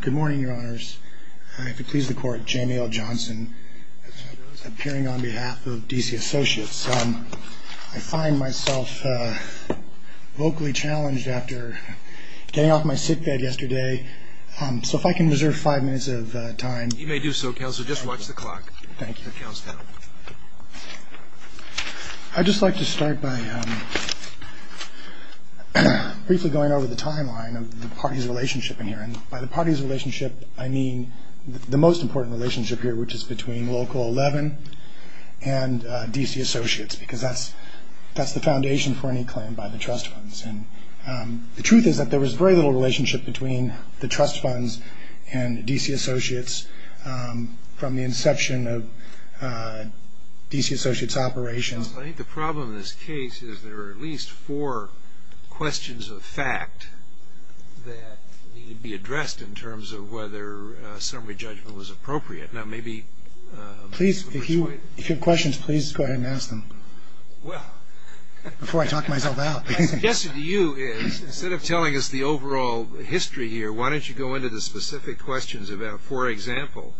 Good morning, your honors. If it pleases the court, Jamie L. Johnson, appearing on behalf of DC Associates. I find myself vocally challenged after getting off my sickbed yesterday, so if I can reserve five minutes of time. You may do so, counselor. Just watch the clock. Thank you. I'd just like to start by briefly going over the timeline of the party's By the party's relationship, I mean the most important relationship here, which is between Local 11 and DC Associates, because that's the foundation for any claim by the trust funds. The truth is that there was very little relationship between the trust funds and DC Associates from the inception of DC Associates operations. I think the problem in this case is there are at questions of fact that need to be addressed in terms of whether summary judgment was appropriate. Now maybe... Please, if you have questions, please go ahead and ask them before I talk myself out. My suggestion to you is, instead of telling us the overall history here, why don't you go into the specific questions about, for example,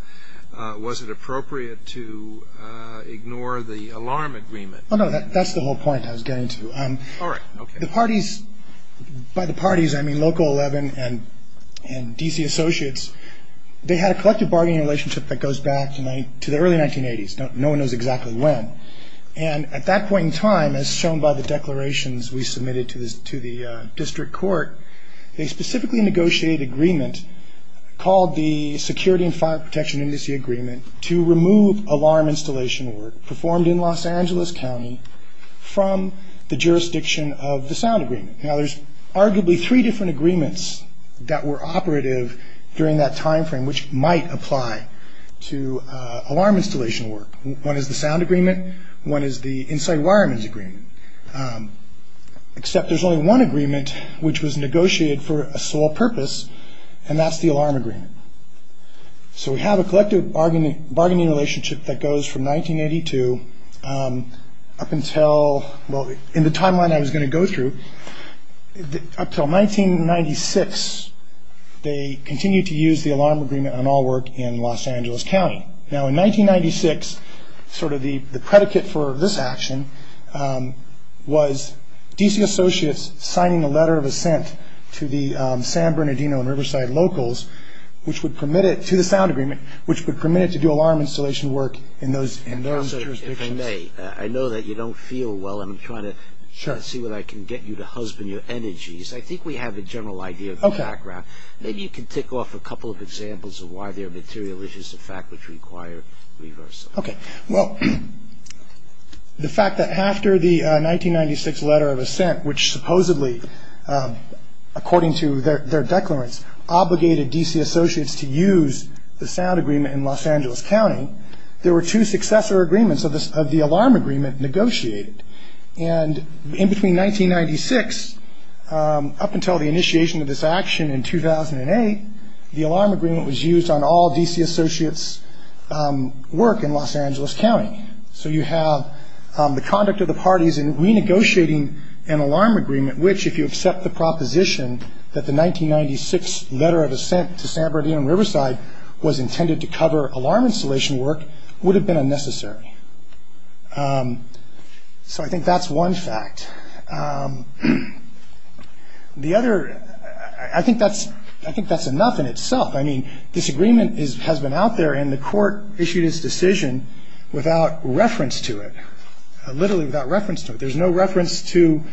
was it appropriate to ignore the alarm agreement? Oh no, that's the whole point I was getting to. All right, okay. By the party's, I mean Local 11 and DC Associates, they had a collective bargaining relationship that goes back to the early 1980s. No one knows exactly when. At that point in time, as shown by the declarations we submitted to the district court, they specifically negotiated agreement called the Security and Fire Protection Index Agreement to remove alarm installation work performed in Los Angeles County from the jurisdiction of the sound agreement. Now there's arguably three different agreements that were operative during that time frame, which might apply to alarm installation work. One is the sound agreement, one is the Insight Wireman's Agreement, except there's only one agreement which was negotiated for a sole purpose, and that's the alarm agreement. So we have a collective bargaining relationship that goes from 1982 up until, well, in the timeline I was going to go through, up till 1996, they continued to use the alarm agreement on all work in Los Angeles County. Now in 1996, sort of the predicate for this action was DC Associates signing a letter of assent to the San Bernardino and Riverside locals, which would permit it, to the sound agreement, which would permit it to do alarm installation work in those jurisdictions. Counselor, if I may, I know that you don't feel well, and I'm trying to try to see what I can get you to husband your energies. I think we have a general idea of the background. Maybe you can tick off a couple of examples of why there are material issues to the fact which require reversal. Okay. Well, the fact that after the 1996 letter of assent, which supposedly, according to their declarants, obligated DC Associates to use the sound agreement in Los Angeles County, there were two successor agreements of the alarm agreement negotiated. And in between 1996, up until the initiation of this action in 2008, the alarm agreement was used on all DC Associates work in Los Angeles County. So you have the conduct of the parties in renegotiating an alarm agreement, which, if you accept the proposition that the 1996 letter of assent to San Bernardino and Riverside was intended to cover alarm installation work, would have been unnecessary. So I think that's one fact. The other, I think that's enough in itself. I mean, this agreement has been out there, and the court issued its decision without reference to it, literally without reference to it. There was no reference to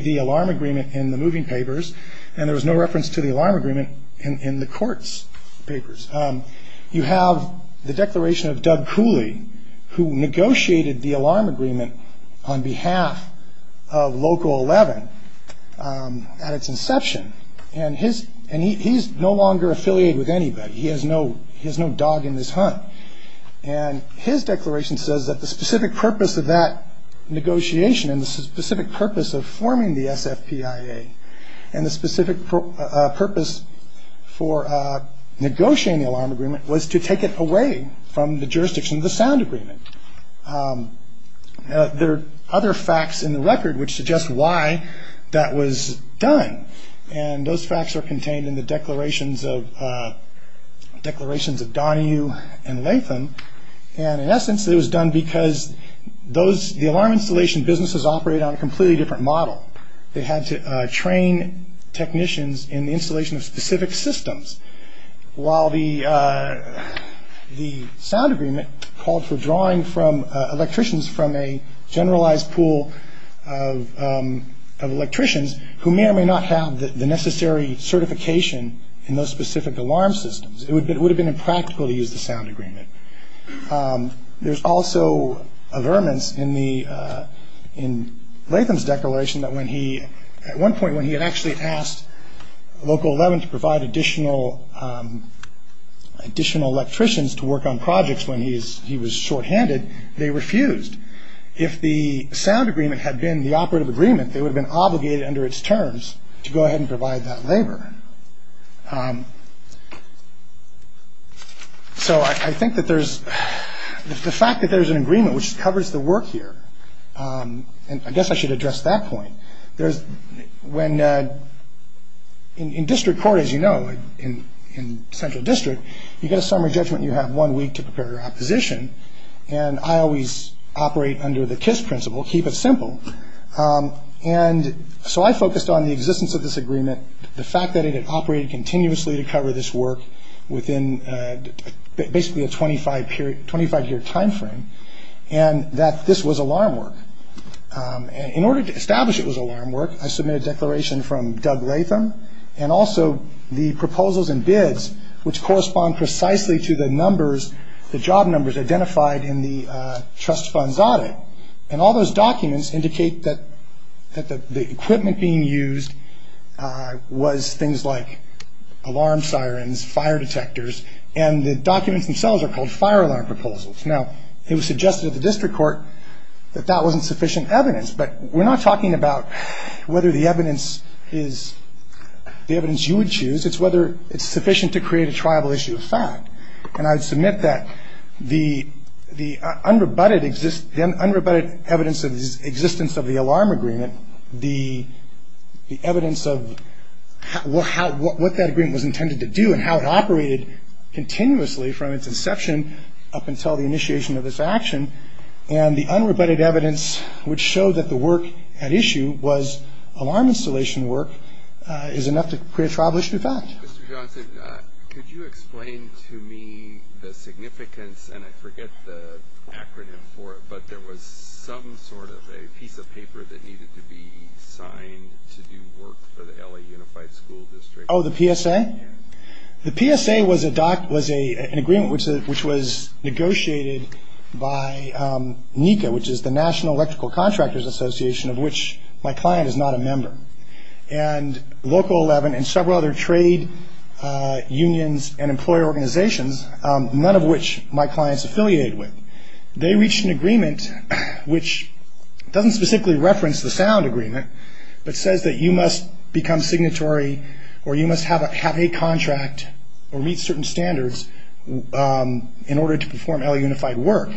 the alarm agreement in the moving papers, and there was no reference to the alarm agreement in the court's papers. You have the declaration of Doug Cooley, who negotiated the alarm agreement on behalf of Local 11 at its inception, and he's no longer affiliated with anybody. He has no dog in this hunt. And his declaration says that the specific purpose of that negotiation, and the specific purpose of forming the SFPIA, and the specific purpose for negotiating the alarm agreement was to take it away from the jurisdiction of the sound agreement. There are other facts in the record which suggest why that was done, and those facts are contained in the declarations of Donahue and Latham, and in essence it was done because the alarm installation businesses operated on a completely different model. They had to train technicians in the installation of specific systems, while the sound agreement called for drawing electricians from a generalized pool of electricians who may or may not have the necessary certification in those specific alarm systems. It would have been impractical to use the sound agreements in Latham's declaration that when he, at one point when he had actually asked Local 11 to provide additional electricians to work on projects when he was shorthanded, they refused. If the sound agreement had been the operative agreement, they would have been obligated under its terms to go ahead and provide that labor. So I think that there's, the fact that there's an agreement which covers the work here, and I guess I should address that point, there's, when, in district court as you know, in central district, you get a summary judgment you have one week to prepare your opposition, and I always operate under the KISS principle, keep it simple, and so I focused on the existence of this agreement, the fact that it had operated continuously to cover this work within basically a 25-year timeframe, and that this was alarm work. In order to establish it was alarm work, I submitted a declaration from Doug Latham, and also the proposals and bids which correspond precisely to the numbers, the job numbers identified in the trust funds audit, and all documents indicate that the equipment being used was things like alarm sirens, fire detectors, and the documents themselves are called fire alarm proposals. Now, it was suggested at the district court that that wasn't sufficient evidence, but we're not talking about whether the evidence is the evidence you would choose, it's whether it's sufficient to create a triable issue of fact, and I would submit that the unrebutted evidence of the existence of the alarm agreement, the evidence of what that agreement was intended to do and how it operated continuously from its inception up until the initiation of this action, and the unrebutted evidence which showed that the work at issue was alarm installation work is enough to create a triable issue of fact. Mr. Johnson, could you explain to me the significance, and I forget the acronym for it, but there was some sort of a piece of paper that needed to be signed to do work for the LA Unified School District? Oh, the PSA? The PSA was an agreement which was negotiated by NECA, which is the National Electrical Contractors Association, of which my client is not a member, and Local 11 and several other trade unions and employer organizations, none of which my client is affiliated with. They reached an agreement which doesn't specifically reference the sound agreement, but says that you must become signatory or you must have a contract or meet certain standards in order to perform LA Unified work.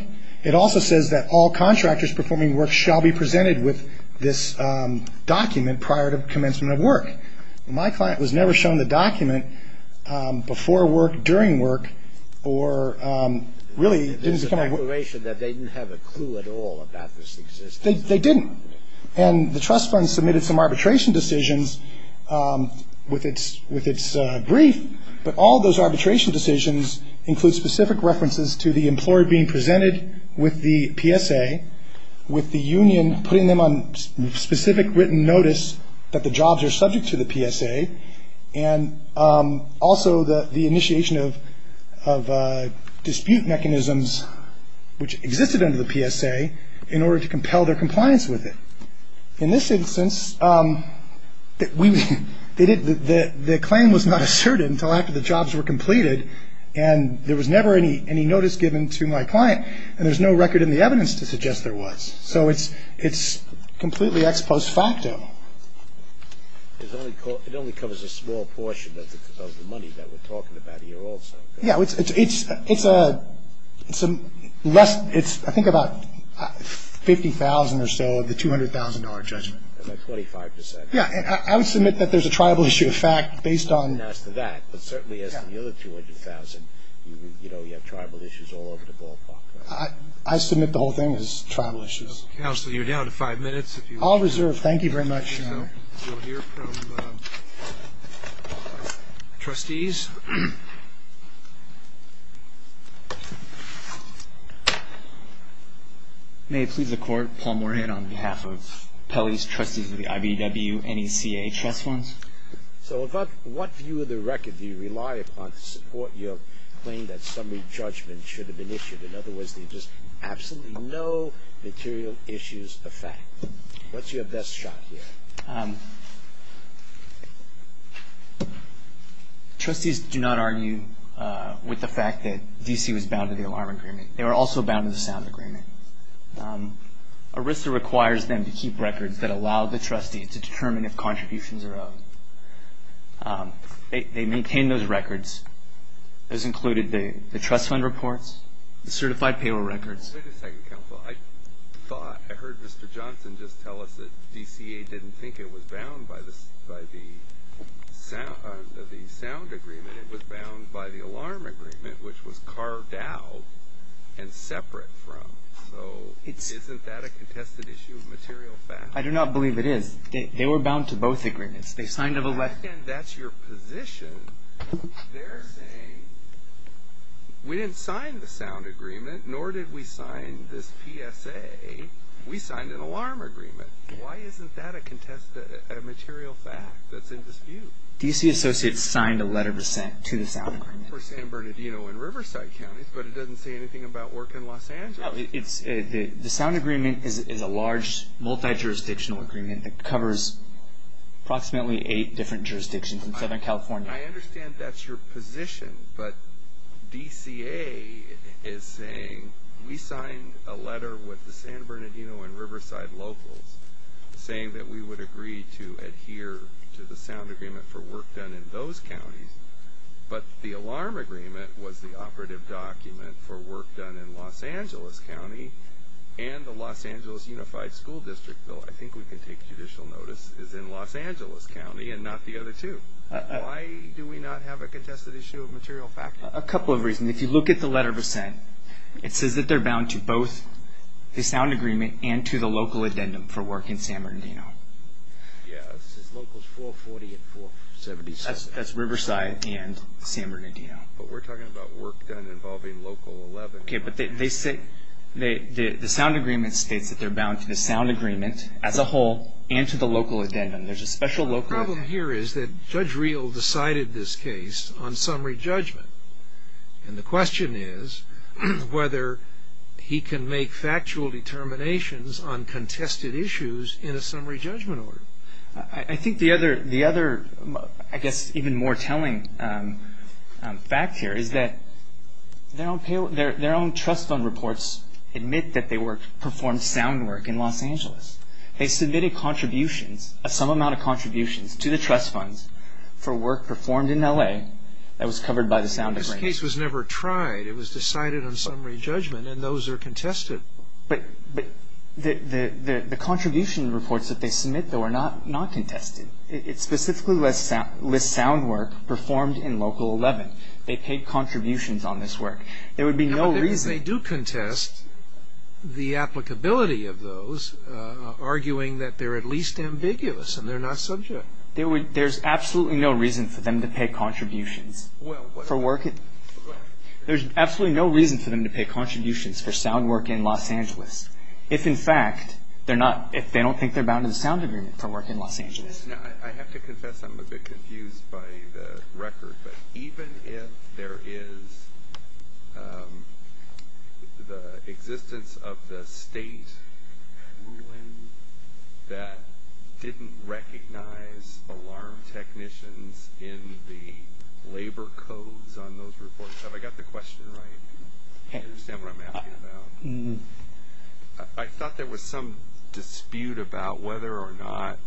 It also says that all contractors performing work shall be presented with this document prior to commencement of work. My client was never shown the document before work, during work, or really didn't come out with it. There's an exploration that they didn't have a clue at all about this existence. They didn't, and the trust fund submitted some arbitration decisions with its brief, but all those arbitration decisions include specific references to the employer being on specific written notice that the jobs are subject to the PSA, and also the initiation of dispute mechanisms which existed under the PSA in order to compel their compliance with it. In this instance, the claim was not asserted until after the jobs were completed, and there was never any notice given to my client, and there's no record in the evidence to suggest there was. So it's completely ex post facto. It only covers a small portion of the money that we're talking about here also. Yeah, it's I think about $50,000 or so of the $200,000 judgment. About 25%. I would submit that there's a tribal issue of fact based on... I wouldn't ask for that, but certainly as to the other $200,000, you have tribal issues all over the ballpark. I submit the whole thing is tribal issues. Counsel, you're down to five minutes. I'll reserve. Thank you very much. We'll hear from trustees. May it please the court, Paul Moorhead on behalf of Pelley's trustees of the IVW NECA trust funds. So about what view of the record do you rely upon to support your claim that summary judgment should have been issued? In other words, there's just absolutely no material issues of fact. What's your best shot here? Trustees do not argue with the fact that DC was bound to the alarm agreement. They were also bound to the sound agreement. ERISA requires them to keep records that allow the trustee to determine if contributions are owed. They maintain those records. Those included the trust fund reports, the certified payroll records. Wait a second, counsel. I heard Mr. Johnson just tell us that DCA didn't think it was bound by the sound agreement. It was bound by the alarm agreement, which was carved out and separate from. So isn't that a contested issue of material fact? I do not believe it is. They were bound to both agreements. I understand that's your position. They're saying we didn't sign the sound agreement, nor did we sign this PSA. We signed an alarm agreement. Why isn't that a contested material fact that's in dispute? DC Associates signed a letter of assent to the sound agreement. For San Bernardino and Riverside counties, but it doesn't say anything about work in Los Angeles. The sound agreement is a large multi-jurisdictional agreement that covers approximately eight different jurisdictions in Southern California. I understand that's your position, but DCA is saying we signed a letter with the San Bernardino and Riverside locals saying that we would agree to adhere to the sound agreement for work done in those counties, but the alarm agreement was the operative document for work done in Los Angeles County and the Los Angeles Unified School District Bill, I think we can take judicial notice, is in Los Angeles County and not the other two. Why do we not have a contested issue of material fact? A couple of reasons. If you look at the letter of assent, it says that they're bound to both the sound agreement and to the local addendum for work in San Bernardino. Yeah, it says locals 440 and 476. That's Riverside and San Bernardino. But we're talking about work done involving local 11. Okay, but they say the sound agreement states that they're bound to the sound agreement as a whole and to the local addendum. There's a special local addendum. The problem here is that Judge Reel decided this case on summary judgment, and the question is whether he can make factual determinations on contested issues in a summary judgment order. I think the other, I guess, even more telling fact here is that their own trust fund reports admit that they performed sound work in Los Angeles. They submitted contributions, a sum amount of contributions, to the trust funds for work performed in L.A. that was covered by the sound agreement. This case was never tried. It was decided on summary judgment, and those are contested. But the contribution reports that they submit, though, are not contested. It specifically lists sound work performed in local 11. They paid contributions on this work. There would be no reason. They do contest the applicability of those, arguing that they're at least ambiguous and they're not subject. There's absolutely no reason for them to pay contributions for work. If, in fact, they don't think they're bound to the sound agreement for work in Los Angeles. I have to confess I'm a bit confused by the record, but even if there is the existence of the state ruling that didn't recognize alarm technicians in the labor codes on those reports, have I got the question right? I understand what I'm asking about. I thought there was some dispute about whether or not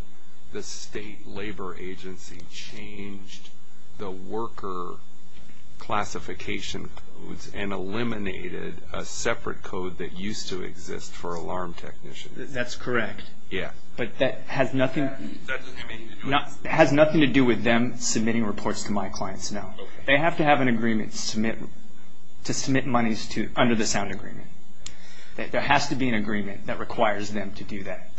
the state labor agency changed the worker classification codes and eliminated a separate code that used to exist for alarm technicians. That's correct, but that has nothing to do with them submitting reports to my clients, no. They have to have an agreement to submit monies under the sound agreement. There has to be an agreement that requires them to do that.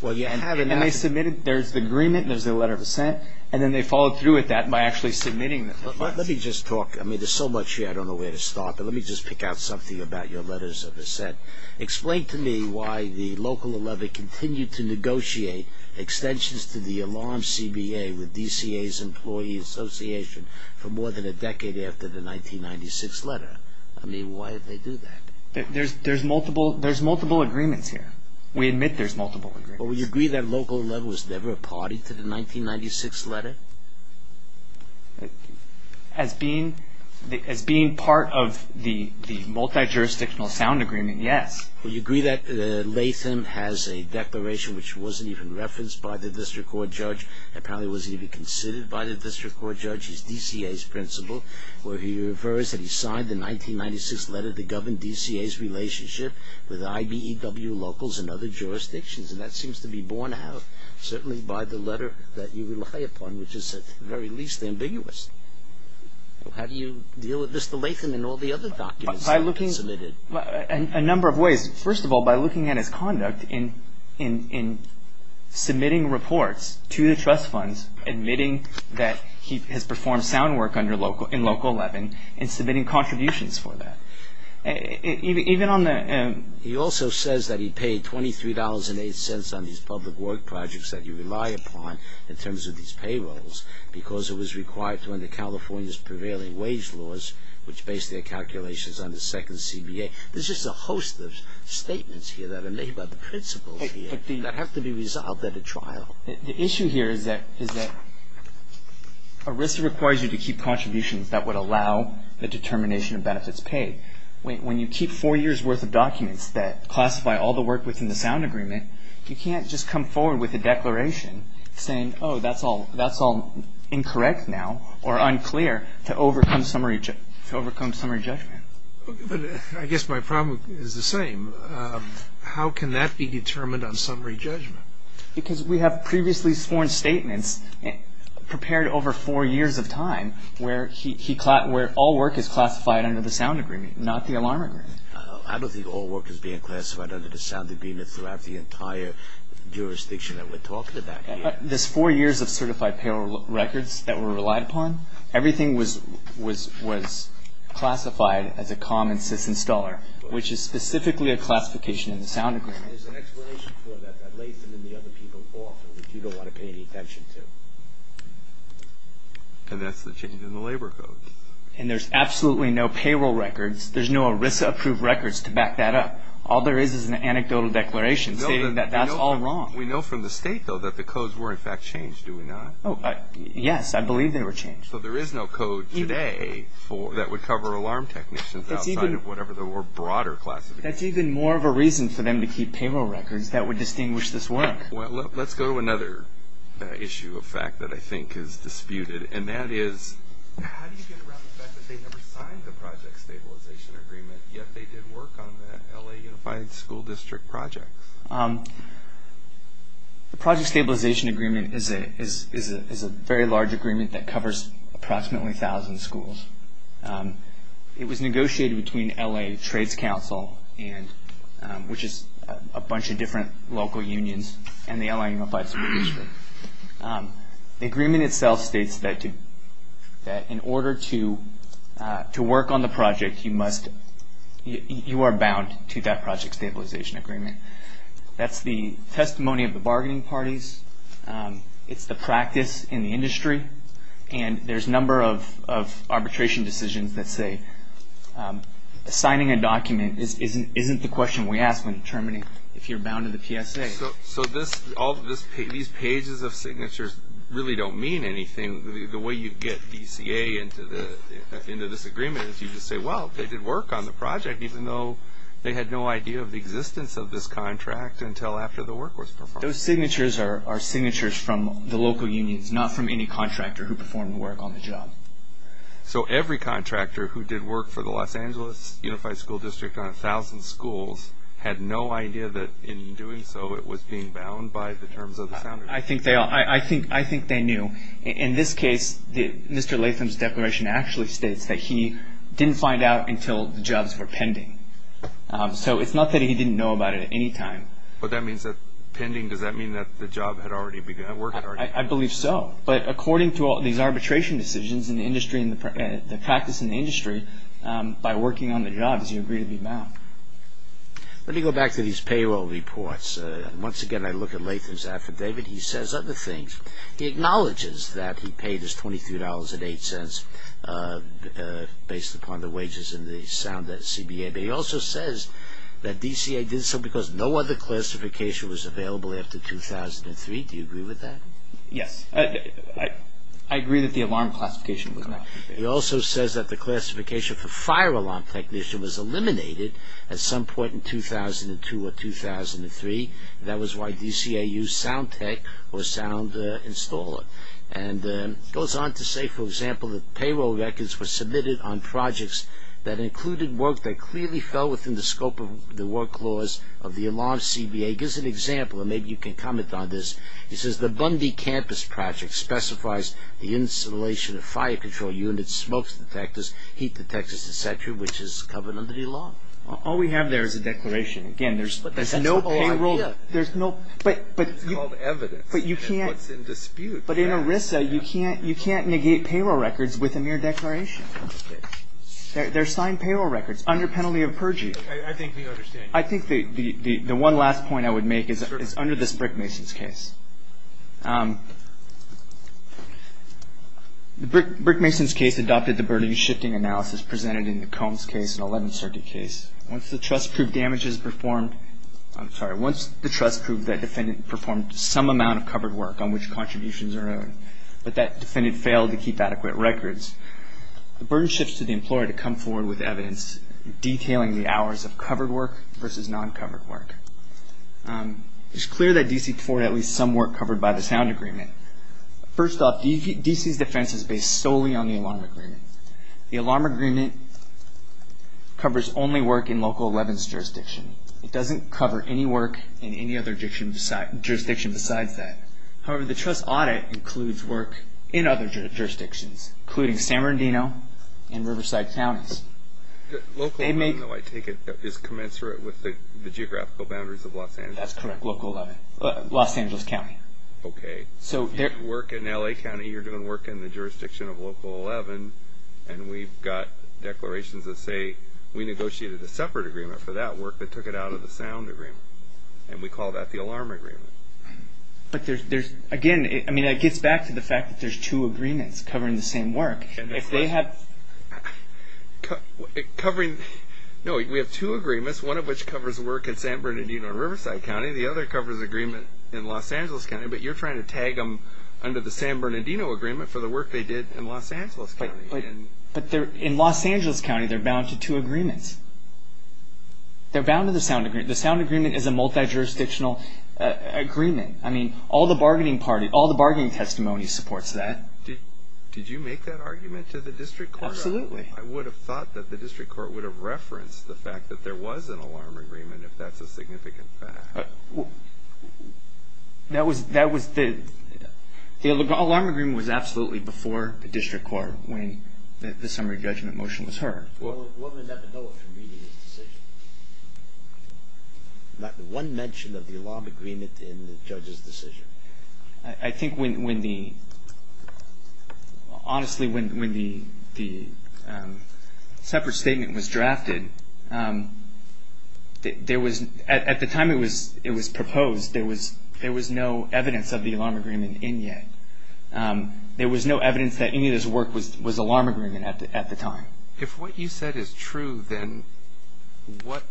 And they submitted. There's the agreement and there's their letter of assent, and then they followed through with that by actually submitting the funds. Let me just talk. I mean, there's so much here I don't know where to start, but let me just pick out something about your letters of assent. Explain to me why the local 11 continued to negotiate extensions to the alarm CBA with DCA's employee association for more than a decade after the 1996 letter. I mean, why did they do that? There's multiple agreements here. We admit there's multiple agreements. Well, would you agree that local 11 was never a party to the 1996 letter? As being part of the multi-jurisdictional sound agreement, yes. Would you agree that Latham has a declaration which wasn't even referenced by the district court judge and probably wasn't even considered by the district court judge as DCA's principle, where he refers that he signed the 1996 letter that governed DCA's relationship with IBEW locals and other jurisdictions? And that seems to be borne out certainly by the letter that you rely upon, which is at the very least ambiguous. How do you deal with this? The Latham and all the other documents that were submitted. By looking a number of ways. First of all, by looking at his conduct in submitting reports to the trust funds, admitting that he has performed sound work in local 11, and submitting contributions for that. He also says that he paid $23.08 on these public work projects that you rely upon in terms of these payrolls because it was required to under California's prevailing wage laws, which base their calculations on the second CBA. There's just a host of statements here that are made by the principles that have to be resolved at a trial. The issue here is that ERISA requires you to keep contributions that would allow the determination of benefits paid. When you keep four years' worth of documents that classify all the work within the sound agreement, you can't just come forward with a declaration saying, oh, that's all incorrect now or unclear to overcome summary judgment. I guess my problem is the same. How can that be determined on summary judgment? Because we have previously sworn statements prepared over four years of time where all work is classified under the sound agreement, not the alarm agreement. I don't think all work is being classified under the sound agreement throughout the entire jurisdiction that we're talking about here. This four years of certified payroll records that were relied upon, everything was classified as a common sys-installer, which is specifically a classification in the sound agreement. There's an explanation for that that lays it in the other people often that you don't want to pay any attention to. And that's the change in the labor codes. And there's absolutely no payroll records. There's no ERISA-approved records to back that up. All there is is an anecdotal declaration stating that that's all wrong. We know from the state, though, that the codes were in fact changed, do we not? Yes, I believe they were changed. So there is no code today that would cover alarm technicians outside of whatever the more broader classification. That's even more of a reason for them to keep payroll records that would distinguish this work. Well, let's go to another issue of fact that I think is disputed, and that is how do you get around the fact that they never signed the project stabilization agreement, yet they did work on the LA Unified School District projects? The project stabilization agreement is a very large agreement that covers approximately 1,000 schools. It was negotiated between LA Trades Council, which is a bunch of different local unions, and the LA Unified School District. The agreement itself states that in order to work on the project, you are bound to that project stabilization agreement. That's the testimony of the bargaining parties. It's the practice in the industry. And there's a number of arbitration decisions that say signing a document isn't the question we ask when determining if you're bound to the PSA. So these pages of signatures really don't mean anything. The way you get DCA into this agreement is you just say, well, they did work on the project, even though they had no idea of the existence of this contract until after the work was performed. Those signatures are signatures from the local unions, not from any contractor who performed the work on the job. So every contractor who did work for the Los Angeles Unified School District on 1,000 schools had no idea that in doing so, it was being bound by the terms of the sounders. I think they knew. In this case, Mr. Latham's declaration actually states that he didn't find out until the jobs were pending. So it's not that he didn't know about it at any time. But that means that pending, does that mean that the job had already begun? I believe so. But according to all these arbitration decisions in the industry and the practice in the industry, by working on the job, you agree to be bound. Let me go back to these payroll reports. Once again, I look at Latham's affidavit. He says other things. He acknowledges that he paid his $23.08 based upon the wages and the sound at CBA. But he also says that DCA did so because no other classification was available after 2003. Do you agree with that? Yes. I agree that the alarm classification was not. He also says that the classification for fire alarm technician was eliminated at some point in 2002 or 2003. That was why DCA used sound tech or sound installer. And he goes on to say, for example, that payroll records were submitted on projects that included work that clearly fell within the scope of the work laws of the alarm CBA. He gives an example, and maybe you can comment on this. He says the Bundy Campus Project specifies the installation of fire control units, smoke detectors, heat detectors, et cetera, which is covered under the alarm. All we have there is a declaration. Again, there's no payroll. But that's the whole idea. There's no. It's called evidence. But you can't. And what's in dispute. But in ERISA, you can't negate payroll records with a mere declaration. Okay. They're signed payroll records under penalty of perjury. I think we understand. I think the one last point I would make is under this Brickmason's case. Brickmason's case adopted the burden-shifting analysis presented in the Combs case, an 11th Circuit case. Once the trust proved damage is performed, I'm sorry, once the trust proved that defendant performed some amount of covered work on which contributions are owed, but that defendant failed to keep adequate records, the burden shifts to the employer to come forward with evidence detailing the hours of covered work versus non-covered work. It's clear that D.C. afforded at least some work covered by the sound agreement. First off, D.C.'s defense is based solely on the alarm agreement. The alarm agreement covers only work in Local 11's jurisdiction. It doesn't cover any work in any other jurisdiction besides that. However, the trust audit includes work in other jurisdictions, including San Bernardino and Riverside counties. Local 11, though, I take it, is commensurate with the geographical boundaries of Los Angeles. That's correct. Local 11. Los Angeles County. Okay. Work in L.A. County, you're doing work in the jurisdiction of Local 11, and we've got declarations that say we negotiated a separate agreement for that work that took it out of the sound agreement, and we call that the alarm agreement. But there's, again, I mean, it gets back to the fact that there's two agreements covering the same work. That's right. Covering, no, we have two agreements, one of which covers work in San Bernardino and Riverside County, the other covers agreement in Los Angeles County, but you're trying to tag them under the San Bernardino agreement for the work they did in Los Angeles County. But in Los Angeles County, they're bound to two agreements. They're bound to the sound agreement. The sound agreement is a multi-jurisdictional agreement. I mean, all the bargaining testimony supports that. Did you make that argument to the district court? Absolutely. I would have thought that the district court would have referenced the fact that there was an alarm agreement, if that's a significant fact. That was the, the alarm agreement was absolutely before the district court when the summary judgment motion was heard. One would never know it from reading his decision. Not one mention of the alarm agreement in the judge's decision. I think when the, honestly, when the separate statement was drafted, there was, at the time it was proposed, there was no evidence of the alarm agreement in yet. There was no evidence that any of this work was alarm agreement at the time. If what you said is true, then what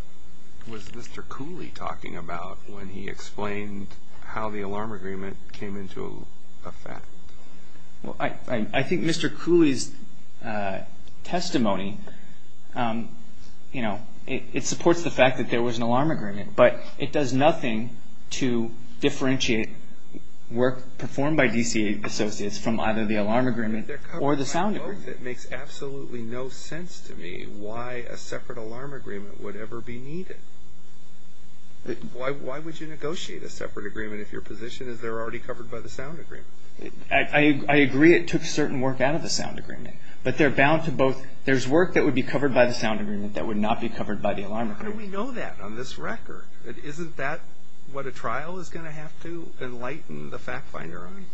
was Mr. Cooley talking about when he explained how the alarm agreement came into effect? Well, I think Mr. Cooley's testimony, you know, it supports the fact that there was an alarm agreement, but it does nothing to differentiate work performed by DCA associates from either the alarm agreement or the sound agreement. It makes absolutely no sense to me why a separate alarm agreement would ever be needed. Why would you negotiate a separate agreement if your position is they're already covered by the sound agreement? I agree it took certain work out of the sound agreement, but they're bound to both. There's work that would be covered by the sound agreement that would not be covered by the alarm agreement. How do we know that on this record? Isn't that what a trial is going to have to enlighten the fact finder on?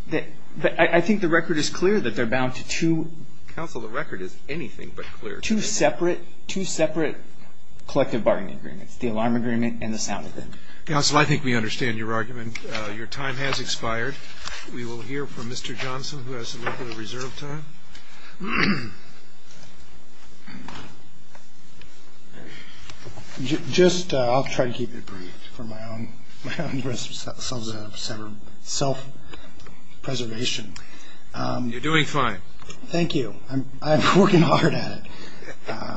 I think the record is clear that they're bound to two. Counsel, the record is anything but clear. Two separate collective bargaining agreements, the alarm agreement and the sound agreement. Counsel, I think we understand your argument. Your time has expired. We will hear from Mr. Johnson who has a little bit of reserve time. Just I'll try to keep it brief for my own self-preservation. You're doing fine. Thank you. I'm working hard at it.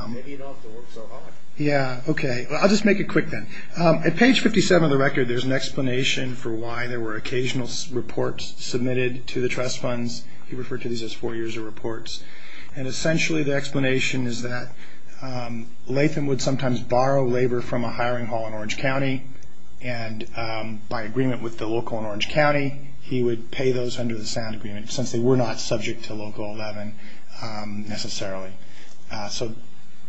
Maybe you don't have to work so hard. Yeah, okay. I'll just make it quick then. At page 57 of the record, there's an explanation for why there were occasional reports submitted to the trust funds. He referred to these as four years of reports. And essentially the explanation is that Latham would sometimes borrow labor from a hiring hall in Orange County, and by agreement with the local in Orange County, he would pay those under the sound agreement since they were not subject to Local 11 necessarily. So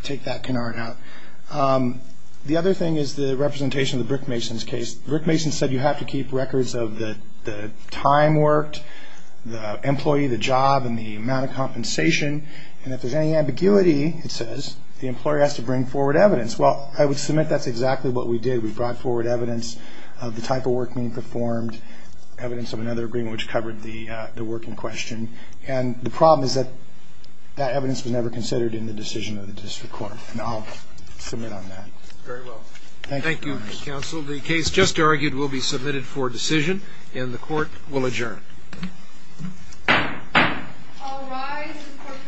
take that canard out. The other thing is the representation of the Brickmasons case. Brickmasons said you have to keep records of the time worked, the employee, the job, and the amount of compensation. And if there's any ambiguity, it says, the employer has to bring forward evidence. Well, I would submit that's exactly what we did. We brought forward evidence of the type of work being performed, evidence of another agreement which covered the working question. And the problem is that that evidence was never considered in the decision of the district court. And I'll submit on that. Very well. Thank you, counsel. The case just argued will be submitted for decision, and the court will adjourn. I'll rise. The court for this session stands adjourned.